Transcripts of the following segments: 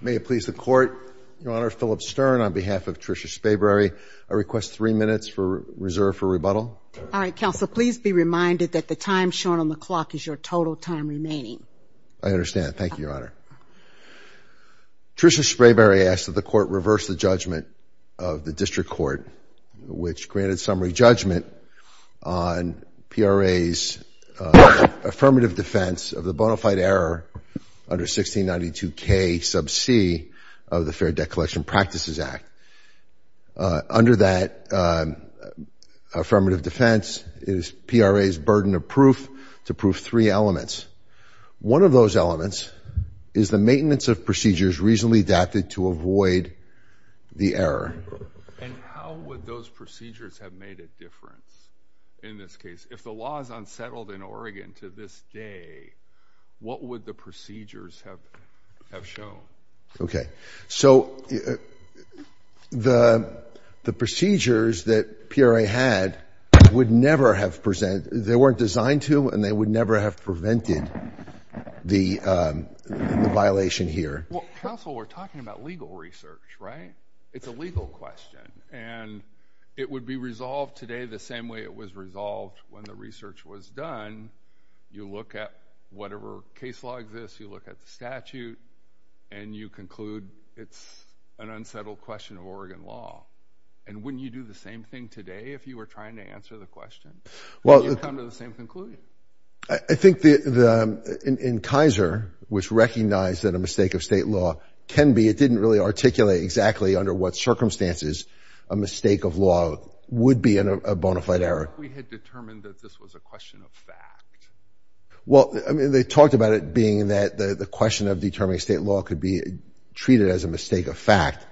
May it please the Court, Your Honor, Philip Stern on behalf of Trisha Sprayberry, I request three minutes for reserve for rebuttal. All right, Counsel, please be reminded that the time shown on the clock is your total time remaining. I understand. Thank you, Your Honor. Trisha Sprayberry asked that the Court reverse the judgment of the District Court, which granted summary judgment on PRA's affirmative defense of the bona fide error under 1692K sub c of the Fair Debt Collection Practices Act. Under that affirmative defense is PRA's burden of proof to prove three elements. One of those elements is the maintenance of procedures reasonably adapted to avoid the error. And how would those procedures have made a difference in this case? If the law is unsettled in Oregon to this day, what would the procedures have shown? Okay, so the procedures that PRA had would never have presented, they weren't designed to and they would never have prevented the violation here. Well, Counsel, we're talking about legal research, right? It's a legal question. And it would be resolved today the same way it was resolved when the research was done. You look at whatever case law exists, you look at the statute, and you conclude it's an unsettled question of Oregon law. And wouldn't you do the same thing today if you were trying to answer the question? Wouldn't you come to the same conclusion? I think in Kaiser, which recognized that a mistake of state law can be, it didn't really articulate exactly under what circumstances a mistake of law would be a bona fide error. What if we had determined that this was a question of fact? Well, I mean, they talked about it being that the question of determining state law could be treated as a mistake of fact.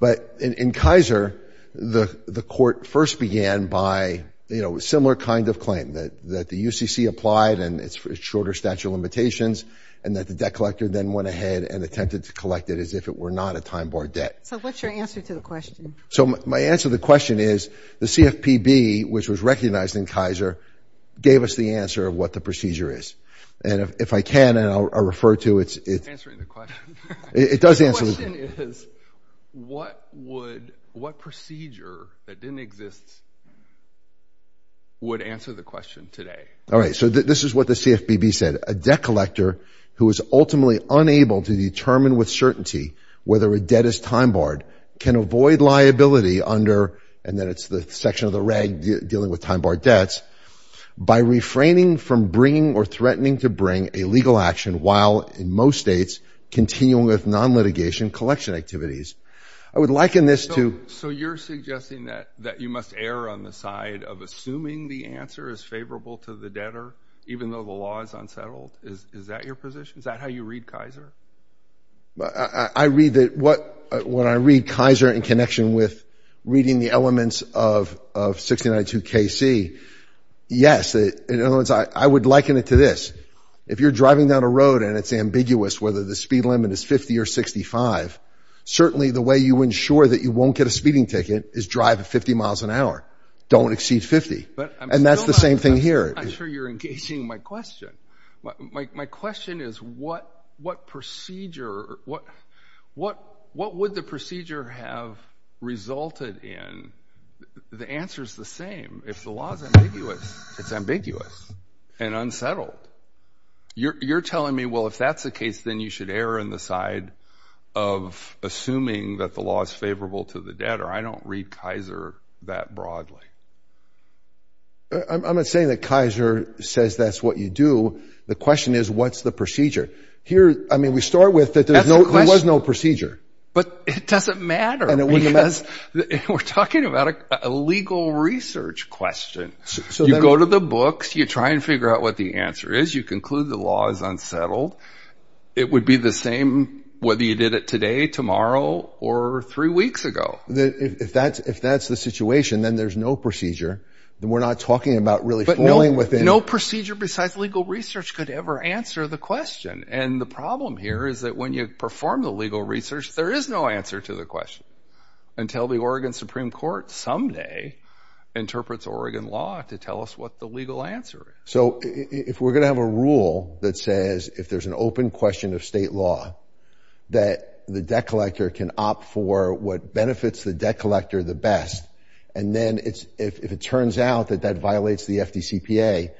But in Kaiser, the court first began by, you know, a similar kind of claim, that the UCC applied and it's shorter statute of limitations, and that the debt collector then went ahead and attempted to collect it as if it were not a time-barred debt. So what's your answer to the question? So my answer to the question is the CFPB, which was recognized in Kaiser, gave us the answer of what the procedure is. And if I can, and I'll refer to it. It's answering the question. It does answer the question. The question is, what procedure that didn't exist would answer the question today? All right, so this is what the CFPB said. A debt collector who is ultimately unable to determine with certainty whether a debt is time-barred can avoid liability under, and then it's the section of the reg dealing with time-barred debts, by refraining from bringing or threatening to bring a legal action while, in most states, continuing with non-litigation collection activities. I would liken this to. So you're suggesting that you must err on the side of assuming the answer is favorable to the debtor, even though the law is unsettled? Is that your position? Is that how you read Kaiser? When I read Kaiser in connection with reading the elements of 1692 KC, yes. In other words, I would liken it to this. If you're driving down a road and it's ambiguous whether the speed limit is 50 or 65, certainly the way you ensure that you won't get a speeding ticket is drive at 50 miles an hour. Don't exceed 50. And that's the same thing here. I'm not sure you're engaging my question. My question is what procedure, what would the procedure have resulted in? The answer is the same. If the law is ambiguous, it's ambiguous and unsettled. You're telling me, well, if that's the case, then you should err on the side of assuming that the law is favorable to the debtor. I don't read Kaiser that broadly. I'm not saying that Kaiser says that's what you do. The question is what's the procedure? I mean, we start with that there was no procedure. But it doesn't matter because we're talking about a legal research question. You go to the books. You try and figure out what the answer is. You conclude the law is unsettled. It would be the same whether you did it today, tomorrow, or three weeks ago. If that's the situation, then there's no procedure. Then we're not talking about really falling within. But no procedure besides legal research could ever answer the question. And the problem here is that when you perform the legal research, there is no answer to the question until the Oregon Supreme Court someday interprets Oregon law to tell us what the legal answer is. So if we're going to have a rule that says if there's an open question of state law that the debt collector can opt for what benefits the debt collector the best, and then if it turns out that that violates the FDCPA,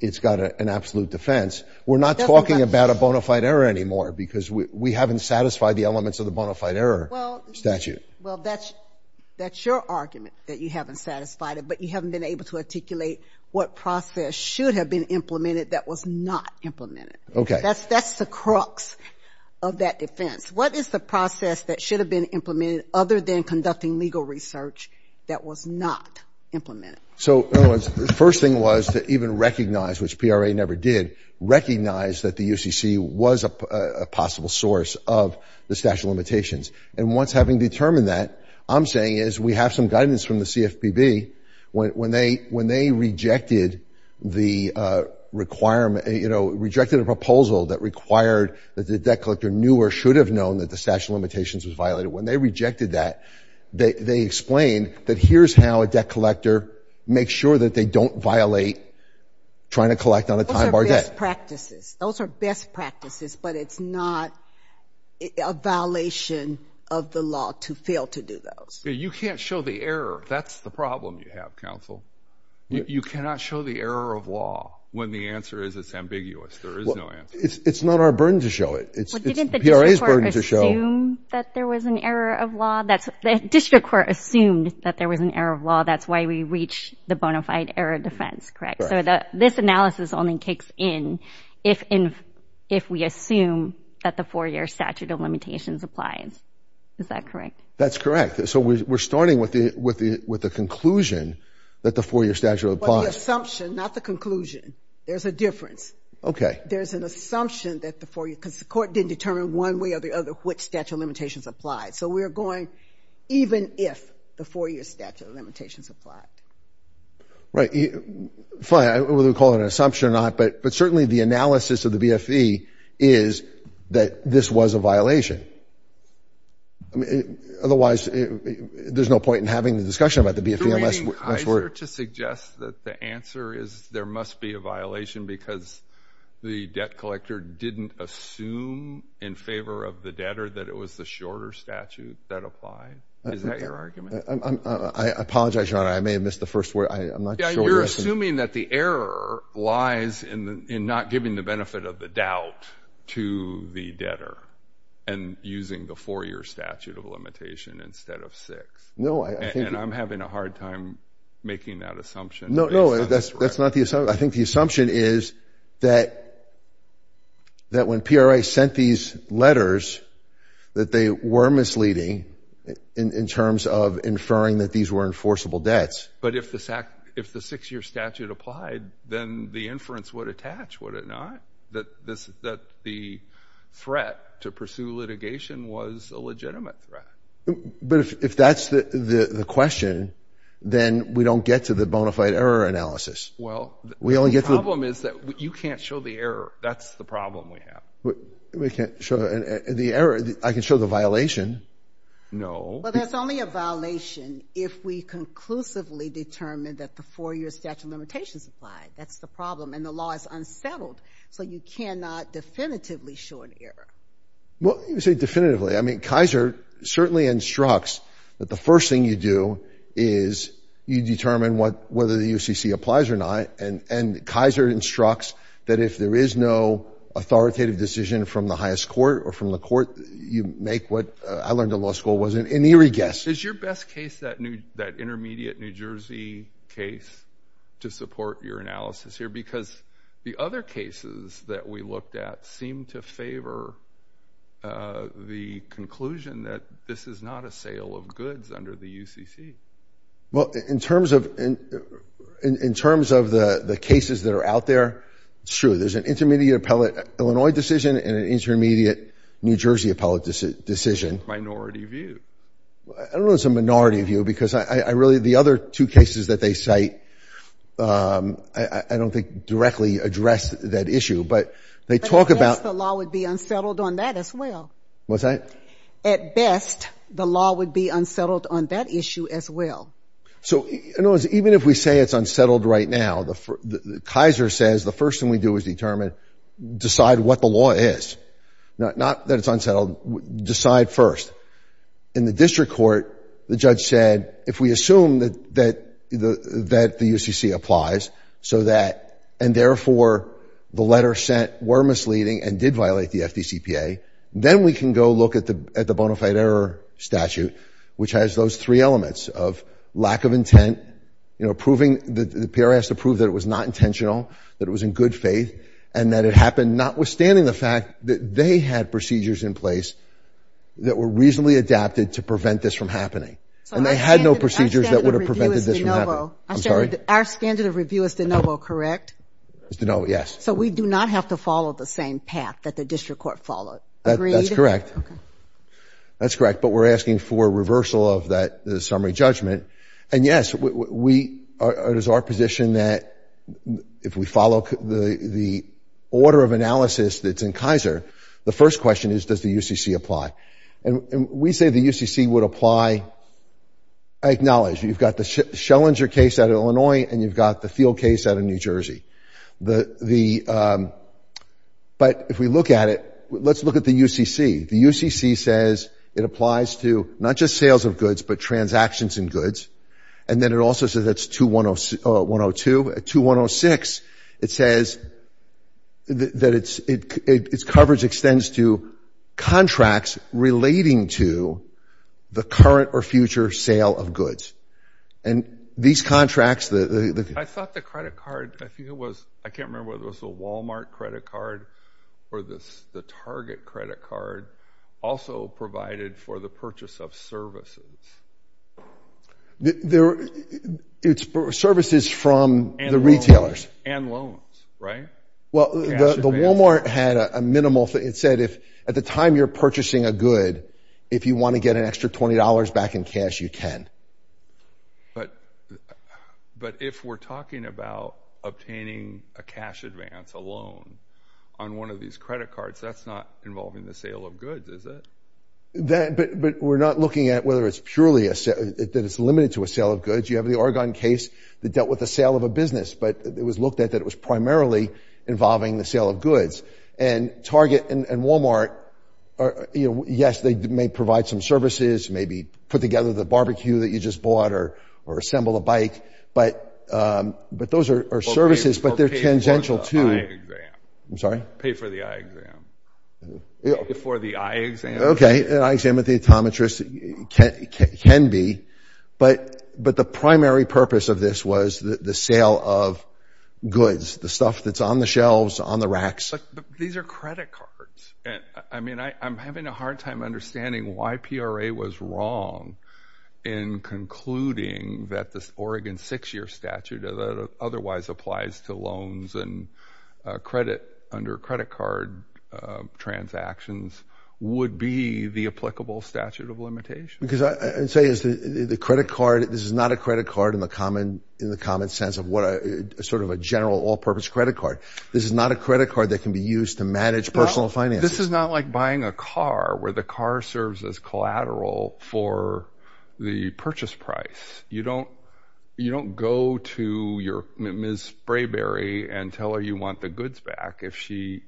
it's got an absolute defense. We're not talking about a bona fide error anymore because we haven't satisfied the elements of the bona fide error statute. Well, that's your argument that you haven't satisfied it, but you haven't been able to articulate what process should have been implemented that was not implemented. Okay. That's the crux of that defense. What is the process that should have been implemented other than conducting legal research that was not implemented? So the first thing was to even recognize, which PRA never did, recognize that the UCC was a possible source of the statute of limitations. And once having determined that, I'm saying is we have some guidance from the CFPB. When they rejected the requirement, you know, rejected a proposal that required that the debt collector knew or should have known that the statute of limitations was violated, when they rejected that, they explained that here's how a debt collector makes sure that they don't violate trying to collect on a time-bar debt. Those are best practices. Those are best practices, but it's not a violation of the law to fail to do those. You can't show the error. That's the problem you have, counsel. You cannot show the error of law when the answer is it's ambiguous. There is no answer. It's not our burden to show it. It's PRA's burden to show. Didn't the district court assume that there was an error of law? The district court assumed that there was an error of law. That's why we reach the bona fide error defense, correct? Correct. So this analysis only kicks in if we assume that the four-year statute of limitations applies. Is that correct? That's correct. So we're starting with the conclusion that the four-year statute applies. Well, the assumption, not the conclusion. There's a difference. Okay. There's an assumption that the four-year, because the court didn't determine one way or the other which statute of limitations applied. So we're going even if the four-year statute of limitations applied. Right. Fine. Whether we call it an assumption or not, but certainly the analysis of the BFE is that this was a violation. Okay. Otherwise, there's no point in having the discussion about the BFE unless we're— You're using Kaiser to suggest that the answer is there must be a violation because the debt collector didn't assume in favor of the debtor that it was the shorter statute that applied. Is that your argument? I apologize, Your Honor. I may have missed the first word. I'm not sure. You're assuming that the error lies in not giving the benefit of the doubt to the debtor. And using the four-year statute of limitation instead of six. No, I think— And I'm having a hard time making that assumption. No, no. That's not the assumption. I think the assumption is that when PRA sent these letters, that they were misleading in terms of inferring that these were enforceable debts. But if the six-year statute applied, then the inference would attach, would it not? That the threat to pursue litigation was a legitimate threat. But if that's the question, then we don't get to the bona fide error analysis. Well, the problem is that you can't show the error. That's the problem we have. We can't show the error. I can show the violation. No. Well, that's only a violation if we conclusively determined that the four-year statute of limitations applied. That's the problem. And the law is unsettled. So you cannot definitively show an error. Well, you say definitively. I mean, Kaiser certainly instructs that the first thing you do is you determine whether the UCC applies or not. And Kaiser instructs that if there is no authoritative decision from the highest court or from the court, you make what I learned in law school was an eerie guess. Is your best case that intermediate New Jersey case to support your analysis here? Because the other cases that we looked at seemed to favor the conclusion that this is not a sale of goods under the UCC. Well, in terms of the cases that are out there, it's true. There's an intermediate appellate Illinois decision and an intermediate New Jersey appellate decision. Minority view. I don't know if it's a minority view because I really the other two cases that they cite, I don't think directly address that issue. But they talk about the law would be unsettled on that as well. What's that? At best, the law would be unsettled on that issue as well. So even if we say it's unsettled right now, Kaiser says the first thing we do is determine, decide what the law is. Not that it's unsettled. Decide first. In the district court, the judge said, if we assume that the UCC applies so that, and therefore the letter sent were misleading and did violate the FDCPA, then we can go look at the bona fide error statute, which has those three elements of lack of intent, proving, the PRS approved that it was not intentional, that it was in good faith, and that it happened notwithstanding the fact that they had procedures in place that were reasonably adapted to prevent this from happening. And they had no procedures that would have prevented this from happening. I'm sorry? Our standard of review is de novo, correct? It's de novo, yes. So we do not have to follow the same path that the district court followed. Agreed? That's correct. Okay. That's correct. But we're asking for reversal of that summary judgment. And, yes, it is our position that if we follow the order of analysis that's in Kaiser, the first question is, does the UCC apply? And we say the UCC would apply. I acknowledge you've got the Schellinger case out of Illinois and you've got the Thiel case out of New Jersey. But if we look at it, let's look at the UCC. The UCC says it applies to not just sales of goods but transactions in goods. And then it also says that's 2102. 2106, it says that its coverage extends to contracts relating to the current or future sale of goods. And these contracts, the – I thought the credit card, I think it was, I can't remember whether it was the Walmart credit card or the Target credit card, also provided for the purchase of services. It's services from the retailers. And loans, right? Well, the Walmart had a minimal – it said if at the time you're purchasing a good, if you want to get an extra $20 back in cash, you can. But if we're talking about obtaining a cash advance, a loan, on one of these credit cards, that's not involving the sale of goods, is it? But we're not looking at whether it's purely a – that it's limited to a sale of goods. You have the Oregon case that dealt with the sale of a business, but it was looked at that it was primarily involving the sale of goods. And Target and Walmart, yes, they may provide some services, maybe put together the barbecue that you just bought or assemble a bike. But those are services, but they're tangential to – Pay for the eye exam. I'm sorry? Pay for the eye exam. Pay for the eye exam. Okay. An eye exam at the optometrist can be. But the primary purpose of this was the sale of goods, the stuff that's on the shelves, on the racks. But these are credit cards. I mean, I'm having a hard time understanding why PRA was wrong in concluding that this Oregon six-year statute that otherwise applies to loans and credit under credit card transactions would be the applicable statute of limitations. Because I would say is the credit card – this is not a credit card in the common sense of sort of a general all-purpose credit card. This is not a credit card that can be used to manage personal finances. This is not like buying a car where the car serves as collateral for the purchase price. You don't go to your Ms. Sprayberry and tell her you want the goods back if she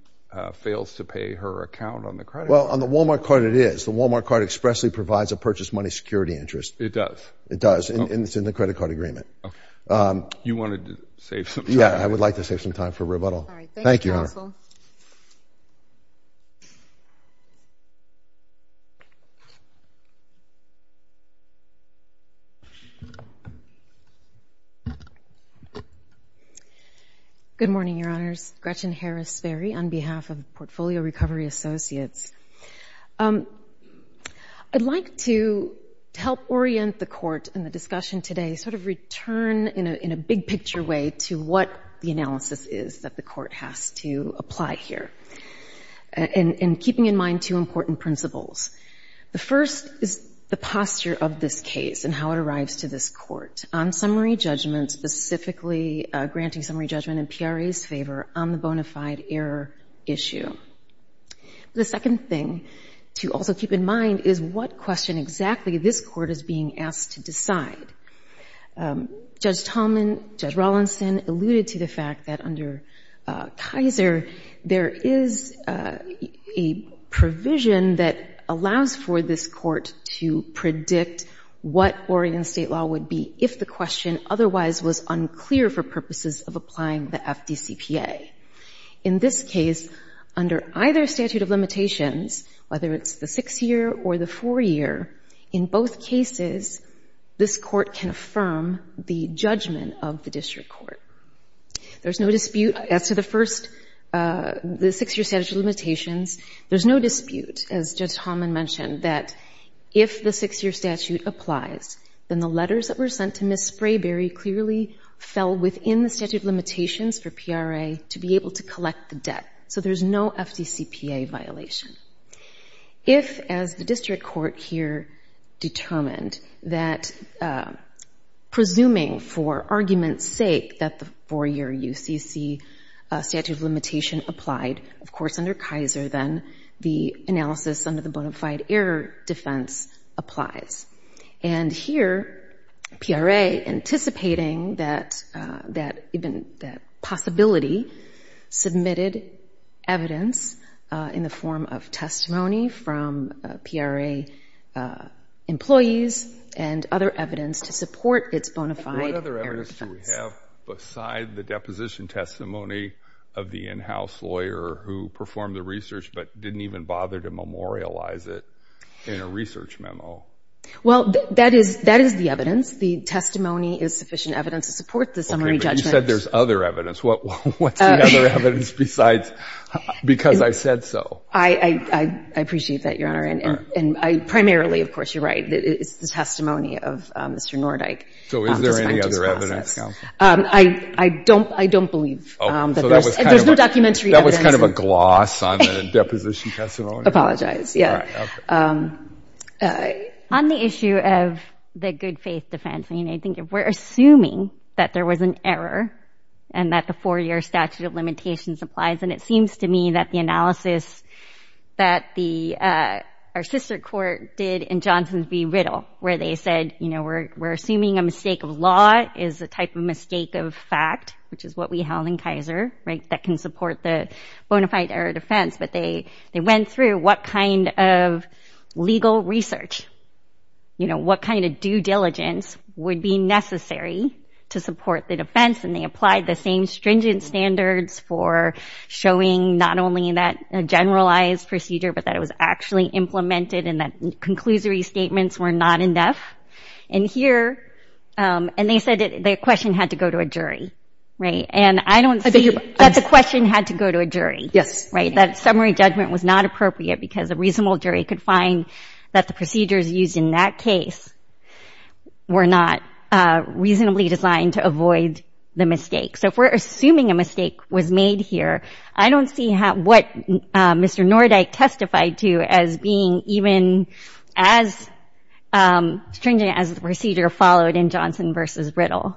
fails to pay her account on the credit card. Well, on the Walmart card it is. The Walmart card expressly provides a purchase money security interest. It does? It does, and it's in the credit card agreement. Okay. You wanted to save some time. Thank you, Your Honor. Good morning, Your Honors. Gretchen Harris Sperry on behalf of Portfolio Recovery Associates. I'd like to help orient the Court in the discussion today, sort of return in a big-picture way to what the analysis is that the Court has to apply here, and keeping in mind two important principles. The first is the posture of this case and how it arrives to this Court on summary judgment, specifically granting summary judgment in PRE's favor on the bona fide error issue. The second thing to also keep in mind is what question exactly this Court is being asked to decide. Judge Tolman, Judge Rawlinson alluded to the fact that under Kaiser, there is a provision that allows for this Court to predict what Oregon state law would be if the question otherwise was unclear for purposes of applying the FDCPA. In this case, under either statute of limitations, whether it's the six-year or the four-year, in both cases, this Court can affirm the judgment of the district court. There's no dispute as to the first, the six-year statute of limitations. There's no dispute, as Judge Tolman mentioned, that if the six-year statute applies, then the letters that were sent to Ms. Sprayberry clearly fell within the statute of limitations for PRE to be able to collect the debt, so there's no FDCPA violation. If, as the district court here determined, that presuming for argument's sake that the four-year UCC statute of limitation applied, of course, under Kaiser, then the analysis under the bona fide error defense applies, and here PRE, anticipating that possibility, submitted evidence in the form of testimony from PRE employees and other evidence to support its bona fide error defense. What other evidence do we have beside the deposition testimony of the in-house lawyer who performed the research but didn't even bother to memorialize it in a research memo? Well, that is the evidence. The testimony is sufficient evidence to support the summary judgment. You said there's other evidence. What's the other evidence besides because I said so? I appreciate that, Your Honor, and primarily, of course, you're right. It's the testimony of Mr. Nordyke. So is there any other evidence? I don't believe that there's no documentary evidence. That was kind of a gloss on the deposition testimony? Apologize, yeah. On the issue of the good faith defense, I think if we're assuming that there was an error and that the four-year statute of limitations applies, and it seems to me that the analysis that our sister court did in Johnson v. Riddle where they said, you know, we're assuming a mistake of law is a type of mistake of fact, which is what we held in Kaiser, right, that can support the bona fide error defense, but they went through what kind of legal research, you know, what kind of due diligence would be necessary to support the defense, and they applied the same stringent standards for showing not only that a generalized procedure but that it was actually implemented and that conclusory statements were not enough. And here, and they said the question had to go to a jury, right, and I don't see that the question had to go to a jury. That summary judgment was not appropriate because a reasonable jury could find that the procedures used in that case were not reasonably designed to avoid the mistake. So if we're assuming a mistake was made here, I don't see what Mr. Nordyke testified to as being even as stringent as the procedure followed in Johnson v. Riddle.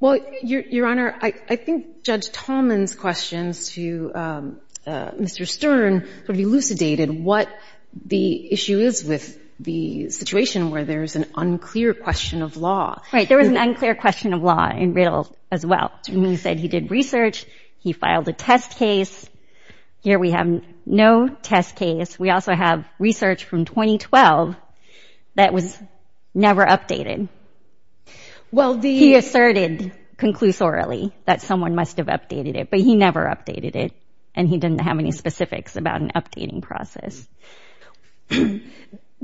Well, Your Honor, I think Judge Tolman's questions to Mr. Stern sort of elucidated what the issue is with the situation where there's an unclear question of law. Right, there was an unclear question of law in Riddle as well. He said he did research, he filed a test case. Here we have no test case. We also have research from 2012 that was never updated. He asserted conclusorily that someone must have updated it, but he never updated it, and he didn't have any specifics about an updating process.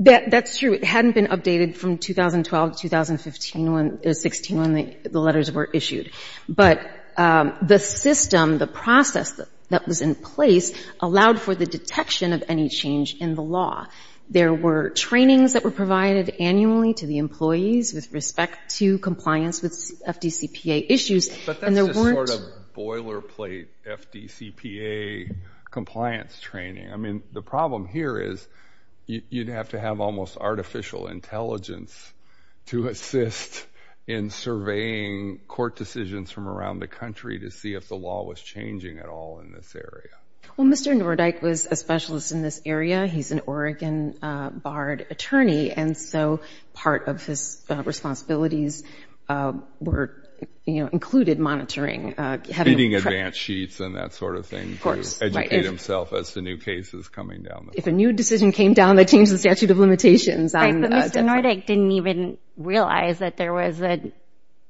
That's true. It hadn't been updated from 2012 to 2016 when the letters were issued. But the system, the process that was in place, allowed for the detection of any change in the law. There were trainings that were provided annually to the employees with respect to compliance with FDCPA issues. But that's just sort of boilerplate FDCPA compliance training. I mean, the problem here is you'd have to have almost artificial intelligence to assist in surveying court decisions from around the country to see if the law was changing at all in this area. Well, Mr. Nordyke was a specialist in this area. He's an Oregon barred attorney, and so part of his responsibilities were, you know, included monitoring. Reading advance sheets and that sort of thing. Of course. Educate himself as to new cases coming down the line. If a new decision came down that changed the statute of limitations. But Mr. Nordyke didn't even realize that there was an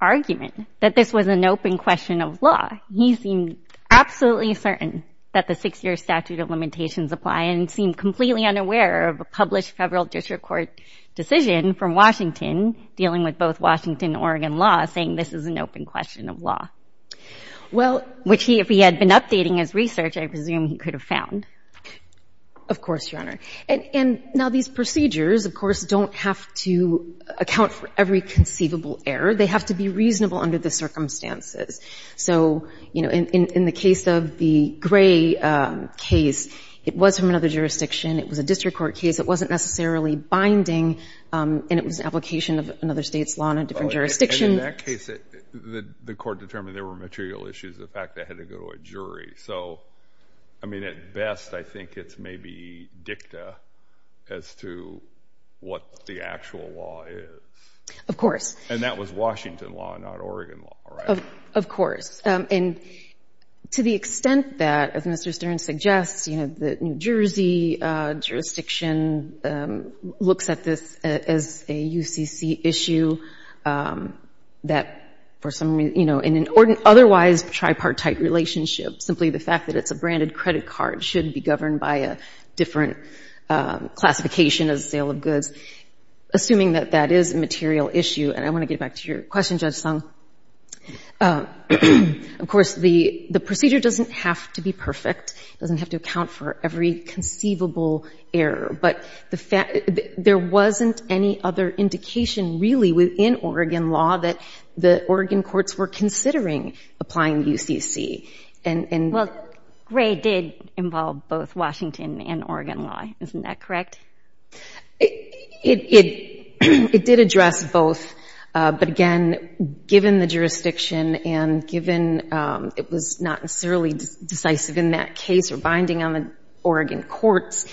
argument, that this was an open question of law. He seemed absolutely certain that the six-year statute of limitations apply and seemed completely unaware of a published federal district court decision from Washington dealing with both Washington and Oregon law saying this is an open question of law. Well. Which he, if he had been updating his research, I presume he could have found. Of course, Your Honor. And now these procedures, of course, don't have to account for every conceivable error. They have to be reasonable under the circumstances. So, you know, in the case of the Gray case, it was from another jurisdiction. It was a district court case. It wasn't necessarily binding, and it was an application of another state's law in a different jurisdiction. In that case, the court determined there were material issues, the fact they had to go to a jury. So, I mean, at best I think it's maybe dicta as to what the actual law is. Of course. And that was Washington law, not Oregon law, right? Of course. And to the extent that, as Mr. Stern suggests, you know, the New Jersey jurisdiction looks at this as a UCC issue, that for some reason, you know, in an otherwise tripartite relationship, simply the fact that it's a branded credit card should be governed by a different classification as a sale of goods, assuming that that is a material issue. And I want to get back to your question, Judge Sung. Of course, the procedure doesn't have to be perfect. It doesn't have to account for every conceivable error. But there wasn't any other indication really within Oregon law that the Oregon courts were considering applying UCC. Well, Gray did involve both Washington and Oregon law. Isn't that correct? It did address both. But, again, given the jurisdiction and given it was not necessarily decisive in that case or binding on the Oregon courts,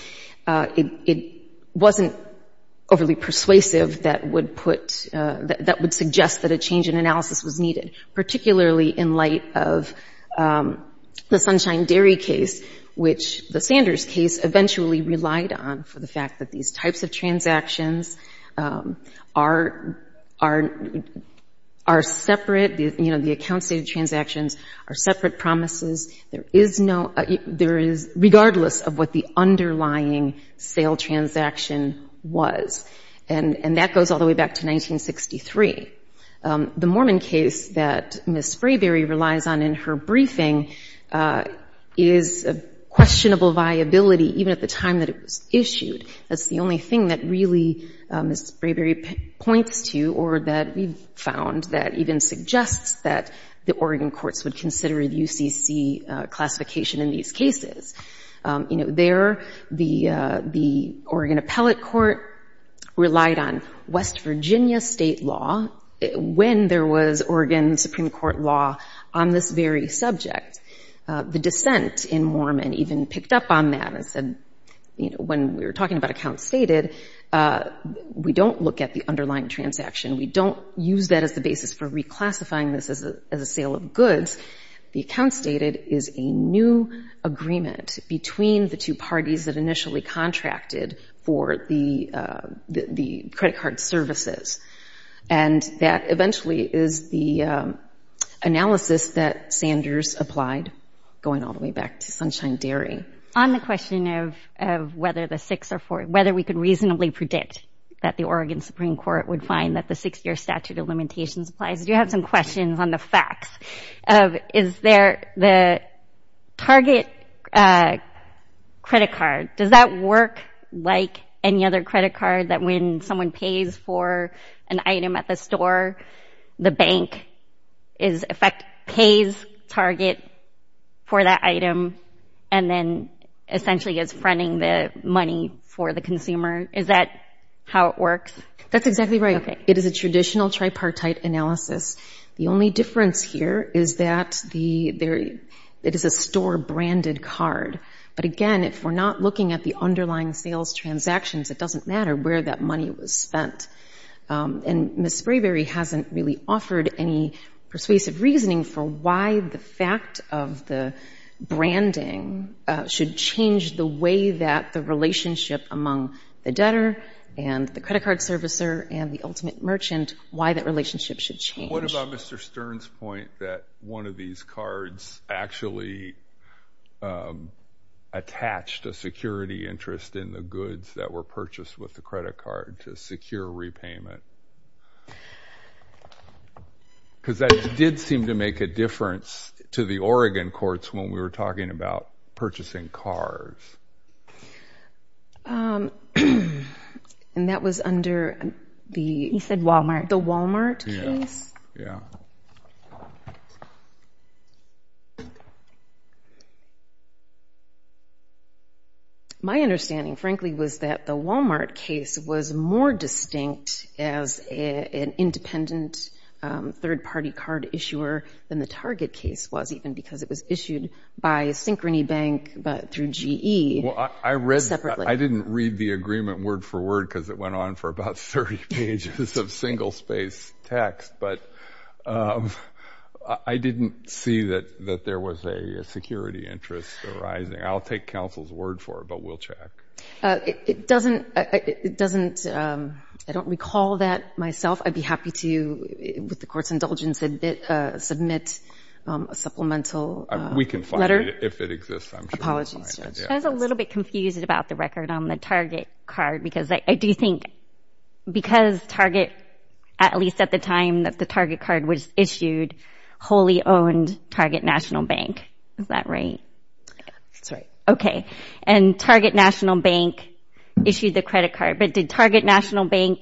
it wasn't overly persuasive that would put, that would suggest that a change in analysis was needed, particularly in light of the Sunshine Dairy case, which the Sanders case eventually relied on for the fact that these types of transactions are separate. You know, the account-stated transactions are separate promises. There is no, there is, regardless of what the underlying sale transaction was. And that goes all the way back to 1963. The Mormon case that Ms. Frayberry relies on in her briefing is a questionable viability, even at the time that it was issued. That's the only thing that really Ms. Frayberry points to or that we've found that even suggests that the Oregon courts would consider a UCC classification in these cases. You know, there the Oregon Appellate Court relied on West Virginia state law when there was Oregon Supreme Court law on this very subject. The dissent in Mormon even picked up on that and said, you know, when we were talking about account-stated, we don't look at the underlying transaction. We don't use that as the basis for reclassifying this as a sale of goods. The account-stated is a new agreement between the two parties that initially contracted for the credit card services. And that eventually is the analysis that Sanders applied, going all the way back to Sunshine Dairy. On the question of whether the six or four, whether we could reasonably predict that the Oregon Supreme Court would find that the six-year statute of limitations applies, I do have some questions on the facts of is there the target credit card, does that work like any other credit card that when someone pays for an item at the store, the bank pays target for that item and then essentially is fronting the money for the consumer? Is that how it works? That's exactly right. It is a traditional tripartite analysis. The only difference here is that it is a store-branded card. But again, if we're not looking at the underlying sales transactions, it doesn't matter where that money was spent. And Ms. Sprayberry hasn't really offered any persuasive reasoning for why the fact of the branding should change the way that the relationship among the debtor and the credit card servicer and the ultimate merchant, why that relationship should change. What about Mr. Stern's point that one of these cards actually attached a security interest in the goods that were purchased with the credit card to secure repayment? Because that did seem to make a difference to the Oregon courts when we were talking about purchasing cards. And that was under the Wal-Mart case? Yeah. My understanding, frankly, was that the Wal-Mart case was more distinct as an independent third-party card issuer than the Target case was, even because it was issued by Synchrony Bank through GE separately. I didn't read the agreement word for word because it went on for about 30 pages of single-space text. But I didn't see that there was a security interest arising. I'll take counsel's word for it, but we'll check. I don't recall that myself. I'd be happy to, with the court's indulgence, submit a supplemental letter. We can find it if it exists, I'm sure. Apologies, Judge. I was a little bit confused about the record on the Target card because I do think because Target, at least at the time that the Target card was issued, wholly owned Target National Bank. Is that right? That's right. Okay. And Target National Bank issued the credit card. But did Target National Bank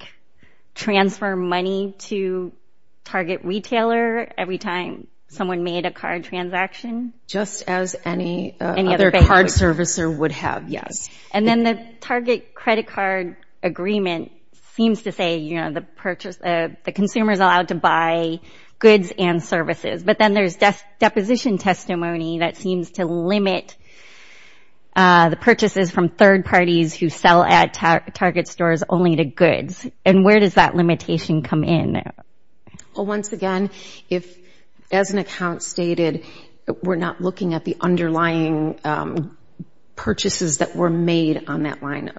transfer money to Target Retailer every time someone made a card transaction? Just as any other card servicer would have, yes. And then the Target credit card agreement seems to say, you know, the consumer is allowed to buy goods and services. But then there's deposition testimony that seems to limit the purchases from third parties who sell at Target stores only to goods. And where does that limitation come in? Well, once again, as an account stated, we're not looking at the underlying purchases that were made on that line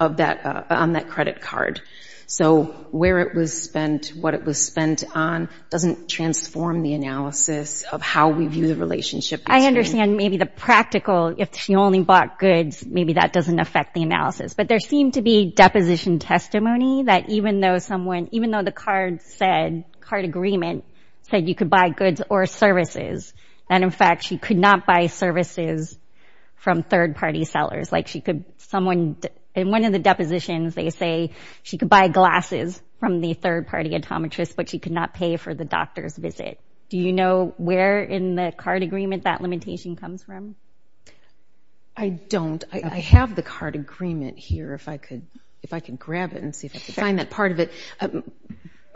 of that credit card. So where it was spent, what it was spent on, doesn't transform the analysis of how we view the relationship. I understand maybe the practical, if she only bought goods, maybe that doesn't affect the analysis. But there seemed to be deposition testimony that even though someone, even though the card said, card agreement, said you could buy goods or services, that in fact she could not buy services from third-party sellers. Like she could, someone, in one of the depositions, they say she could buy glasses from the third-party automatrists, but she could not pay for the doctor's visit. Do you know where in the card agreement that limitation comes from? I don't. I have the card agreement here, if I could grab it and see if I could find that part of it.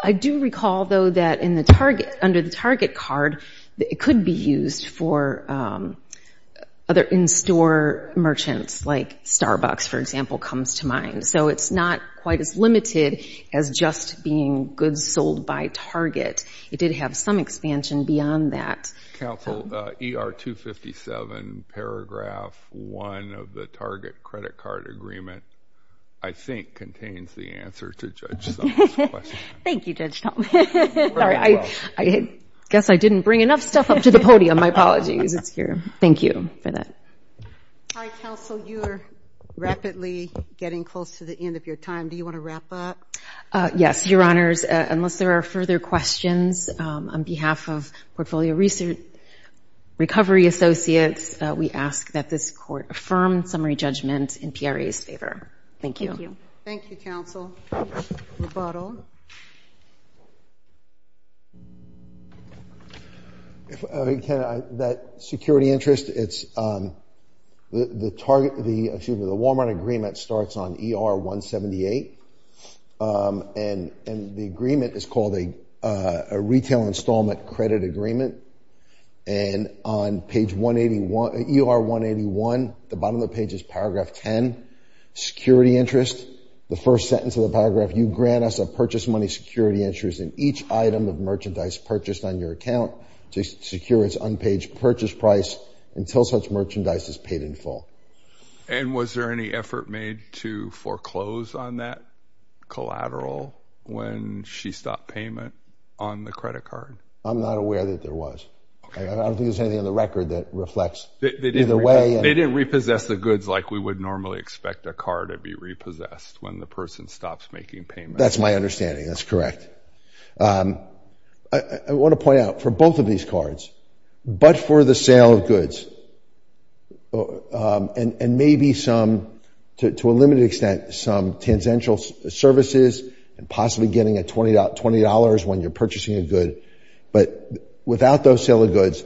I do recall, though, that under the target card, it could be used for other in-store merchants, like Starbucks, for example, comes to mind. So it's not quite as limited as just being goods sold by target. It did have some expansion beyond that. Counsel, ER 257, paragraph 1 of the target credit card agreement, I think, contains the answer to Judge Thompson's question. Thank you, Judge Thompson. I guess I didn't bring enough stuff up to the podium. My apologies. It's here. Thank you for that. Hi, Counsel. You are rapidly getting close to the end of your time. Do you want to wrap up? Yes, Your Honors. Unless there are further questions, on behalf of Portfolio Recovery Associates, we ask that this court affirm summary judgment in PRA's favor. Thank you. Thank you, Counsel. Rebuttal. That security interest, the Walmart agreement starts on ER 178, and the agreement is called a retail installment credit agreement. And on ER 181, the bottom of the page is paragraph 10, security interest. The first sentence of the paragraph, you grant us a purchase money security interest in each item of merchandise purchased on your account to secure its unpaid purchase price until such merchandise is paid in full. And was there any effort made to foreclose on that collateral when she stopped payment on the credit card? I'm not aware that there was. Okay. I don't think there's anything on the record that reflects either way. They didn't repossess the goods like we would normally expect a car to be repossessed when the person stops making payments. That's my understanding. That's correct. I want to point out, for both of these cards, but for the sale of goods, and maybe some, to a limited extent, some tangential services and possibly getting a $20 when you're purchasing a good, but without those sale of goods,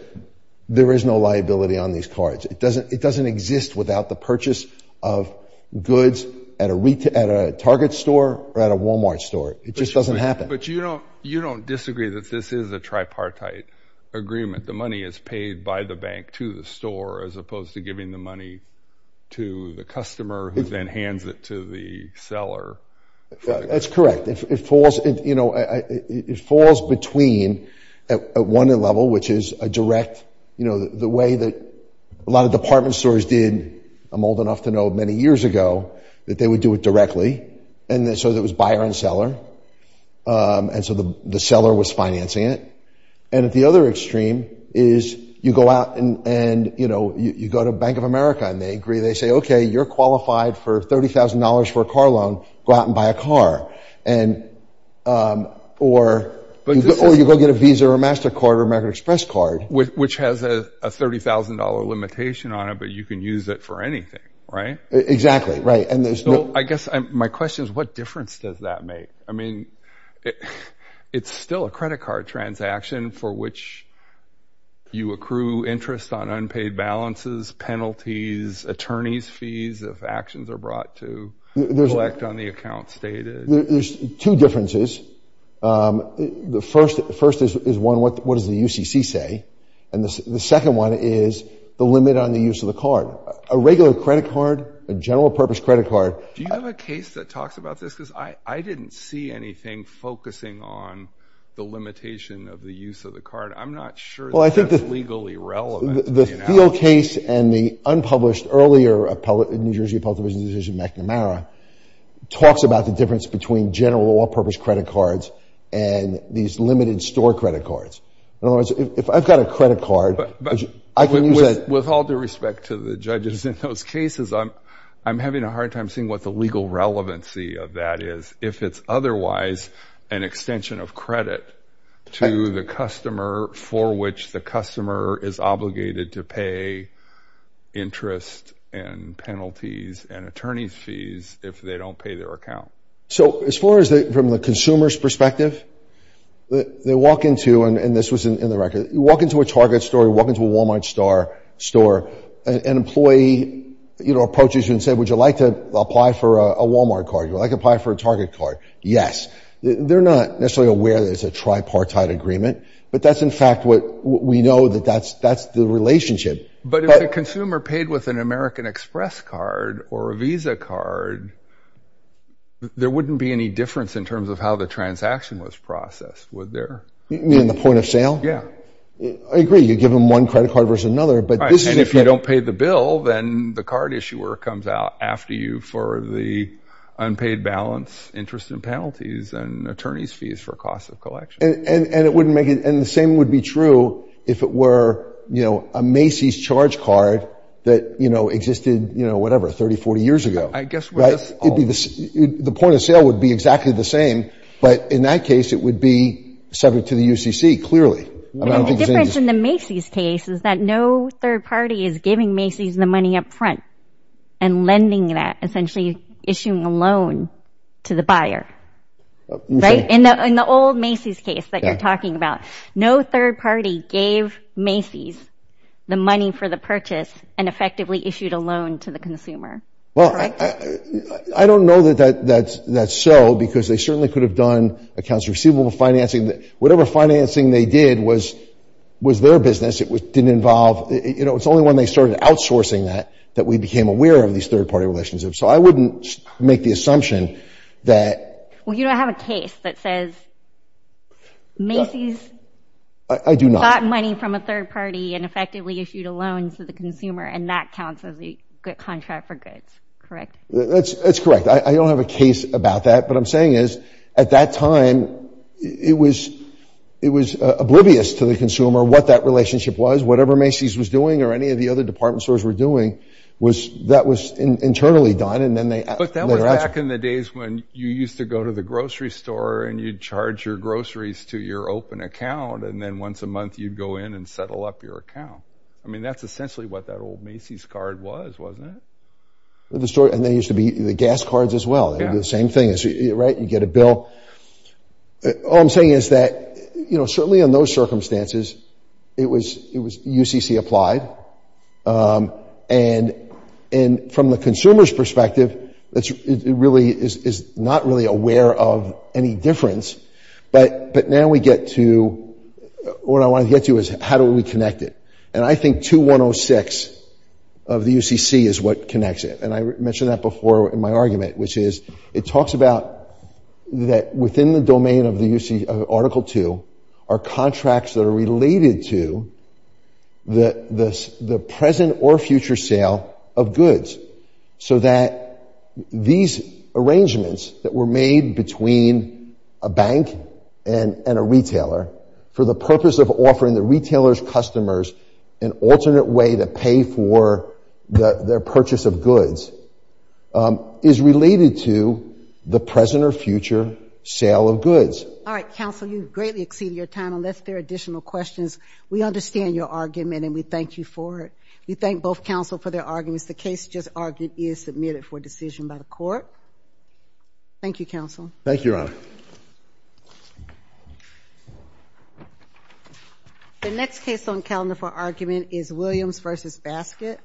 there is no liability on these cards. It doesn't exist without the purchase of goods at a Target store or at a Walmart store. It just doesn't happen. But you don't disagree that this is a tripartite agreement. The money is paid by the bank to the store as opposed to giving the money to the customer who then hands it to the seller. That's correct. It falls between, at one level, which is a direct, you know, the way that a lot of department stores did, I'm old enough to know, many years ago, that they would do it directly. And so there was buyer and seller, and so the seller was financing it. And at the other extreme is you go out and, you know, you go to Bank of America and they agree, they say, okay, you're qualified for $30,000 for a car loan, go out and buy a car. Or you go get a Visa or MasterCard or American Express card. Which has a $30,000 limitation on it, but you can use it for anything, right? Exactly, right. So I guess my question is, what difference does that make? I mean, it's still a credit card transaction for which you accrue interest on unpaid balances, penalties, attorney's fees if actions are brought to collect on the account stated. There's two differences. The first is one, what does the UCC say? And the second one is the limit on the use of the card. A regular credit card, a general purpose credit card. Do you have a case that talks about this? Because I didn't see anything focusing on the limitation of the use of the card. I'm not sure that that's legally relevant. Well, I think the field case and the unpublished earlier New Jersey Appellate Division decision McNamara talks about the difference between general all-purpose credit cards and these limited store credit cards. In other words, if I've got a credit card, I can use it. But with all due respect to the judges in those cases, I'm having a hard time seeing what the legal relevancy of that is. If it's otherwise an extension of credit to the customer for which the customer is obligated to pay interest and penalties and attorney's fees if they don't pay their account. So as far as from the consumer's perspective, they walk into, and this was in the record, you walk into a Target store, you walk into a Walmart store, an employee approaches you and says, would you like to apply for a Walmart card? Would you like to apply for a Target card? Yes. They're not necessarily aware that it's a tripartite agreement, but that's in fact what we know that that's the relationship. But if the consumer paid with an American Express card or a Visa card, there wouldn't be any difference in terms of how the transaction was processed, would there? You mean the point of sale? Yeah. I agree. You give them one credit card versus another. And if you don't pay the bill, then the card issuer comes out after you for the unpaid balance, interest and penalties, and attorney's fees for cost of collection. And the same would be true if it were a Macy's charge card that existed, you know, whatever, 30, 40 years ago. The point of sale would be exactly the same, but in that case it would be subject to the UCC, clearly. The difference in the Macy's case is that no third party is giving Macy's the money up front and lending that, essentially issuing a loan to the buyer. Right? In the old Macy's case that you're talking about, no third party gave Macy's the money for the purchase and effectively issued a loan to the consumer. Well, I don't know that that's so, because they certainly could have done accounts receivable financing. Whatever financing they did was their business. It didn't involve, you know, it's only when they started outsourcing that, that we became aware of these third party relationships. So I wouldn't make the assumption that. Well, you don't have a case that says Macy's. I do not. Got money from a third party and effectively issued a loan to the consumer, and that counts as a contract for goods, correct? That's correct. I don't have a case about that. But what I'm saying is, at that time, it was oblivious to the consumer what that relationship was. Whatever Macy's was doing or any of the other department stores were doing, that was internally done. But that was back in the days when you used to go to the grocery store and you'd charge your groceries to your open account, and then once a month you'd go in and settle up your account. I mean, that's essentially what that old Macy's card was, wasn't it? And they used to be the gas cards as well. It would be the same thing, right? You get a bill. All I'm saying is that, certainly in those circumstances, it was UCC applied. And from the consumer's perspective, it really is not really aware of any difference. But now we get to what I want to get to is how do we connect it? And I think 2106 of the UCC is what connects it. And I mentioned that before in my argument, which is it talks about that within the domain of Article II are contracts that are related to the present or future sale of goods so that these arrangements that were made between a bank and a retailer for the purpose of offering the retailer's customers an alternate way to pay for their purchase of goods is related to the present or future sale of goods. All right. Counsel, you've greatly exceeded your time. Unless there are additional questions, we understand your argument and we thank you for it. We thank both counsel for their arguments. The case just argued is submitted for decision by the court. Thank you, counsel. Thank you, Your Honor. The next case on calendar for argument is Williams v. Baskett.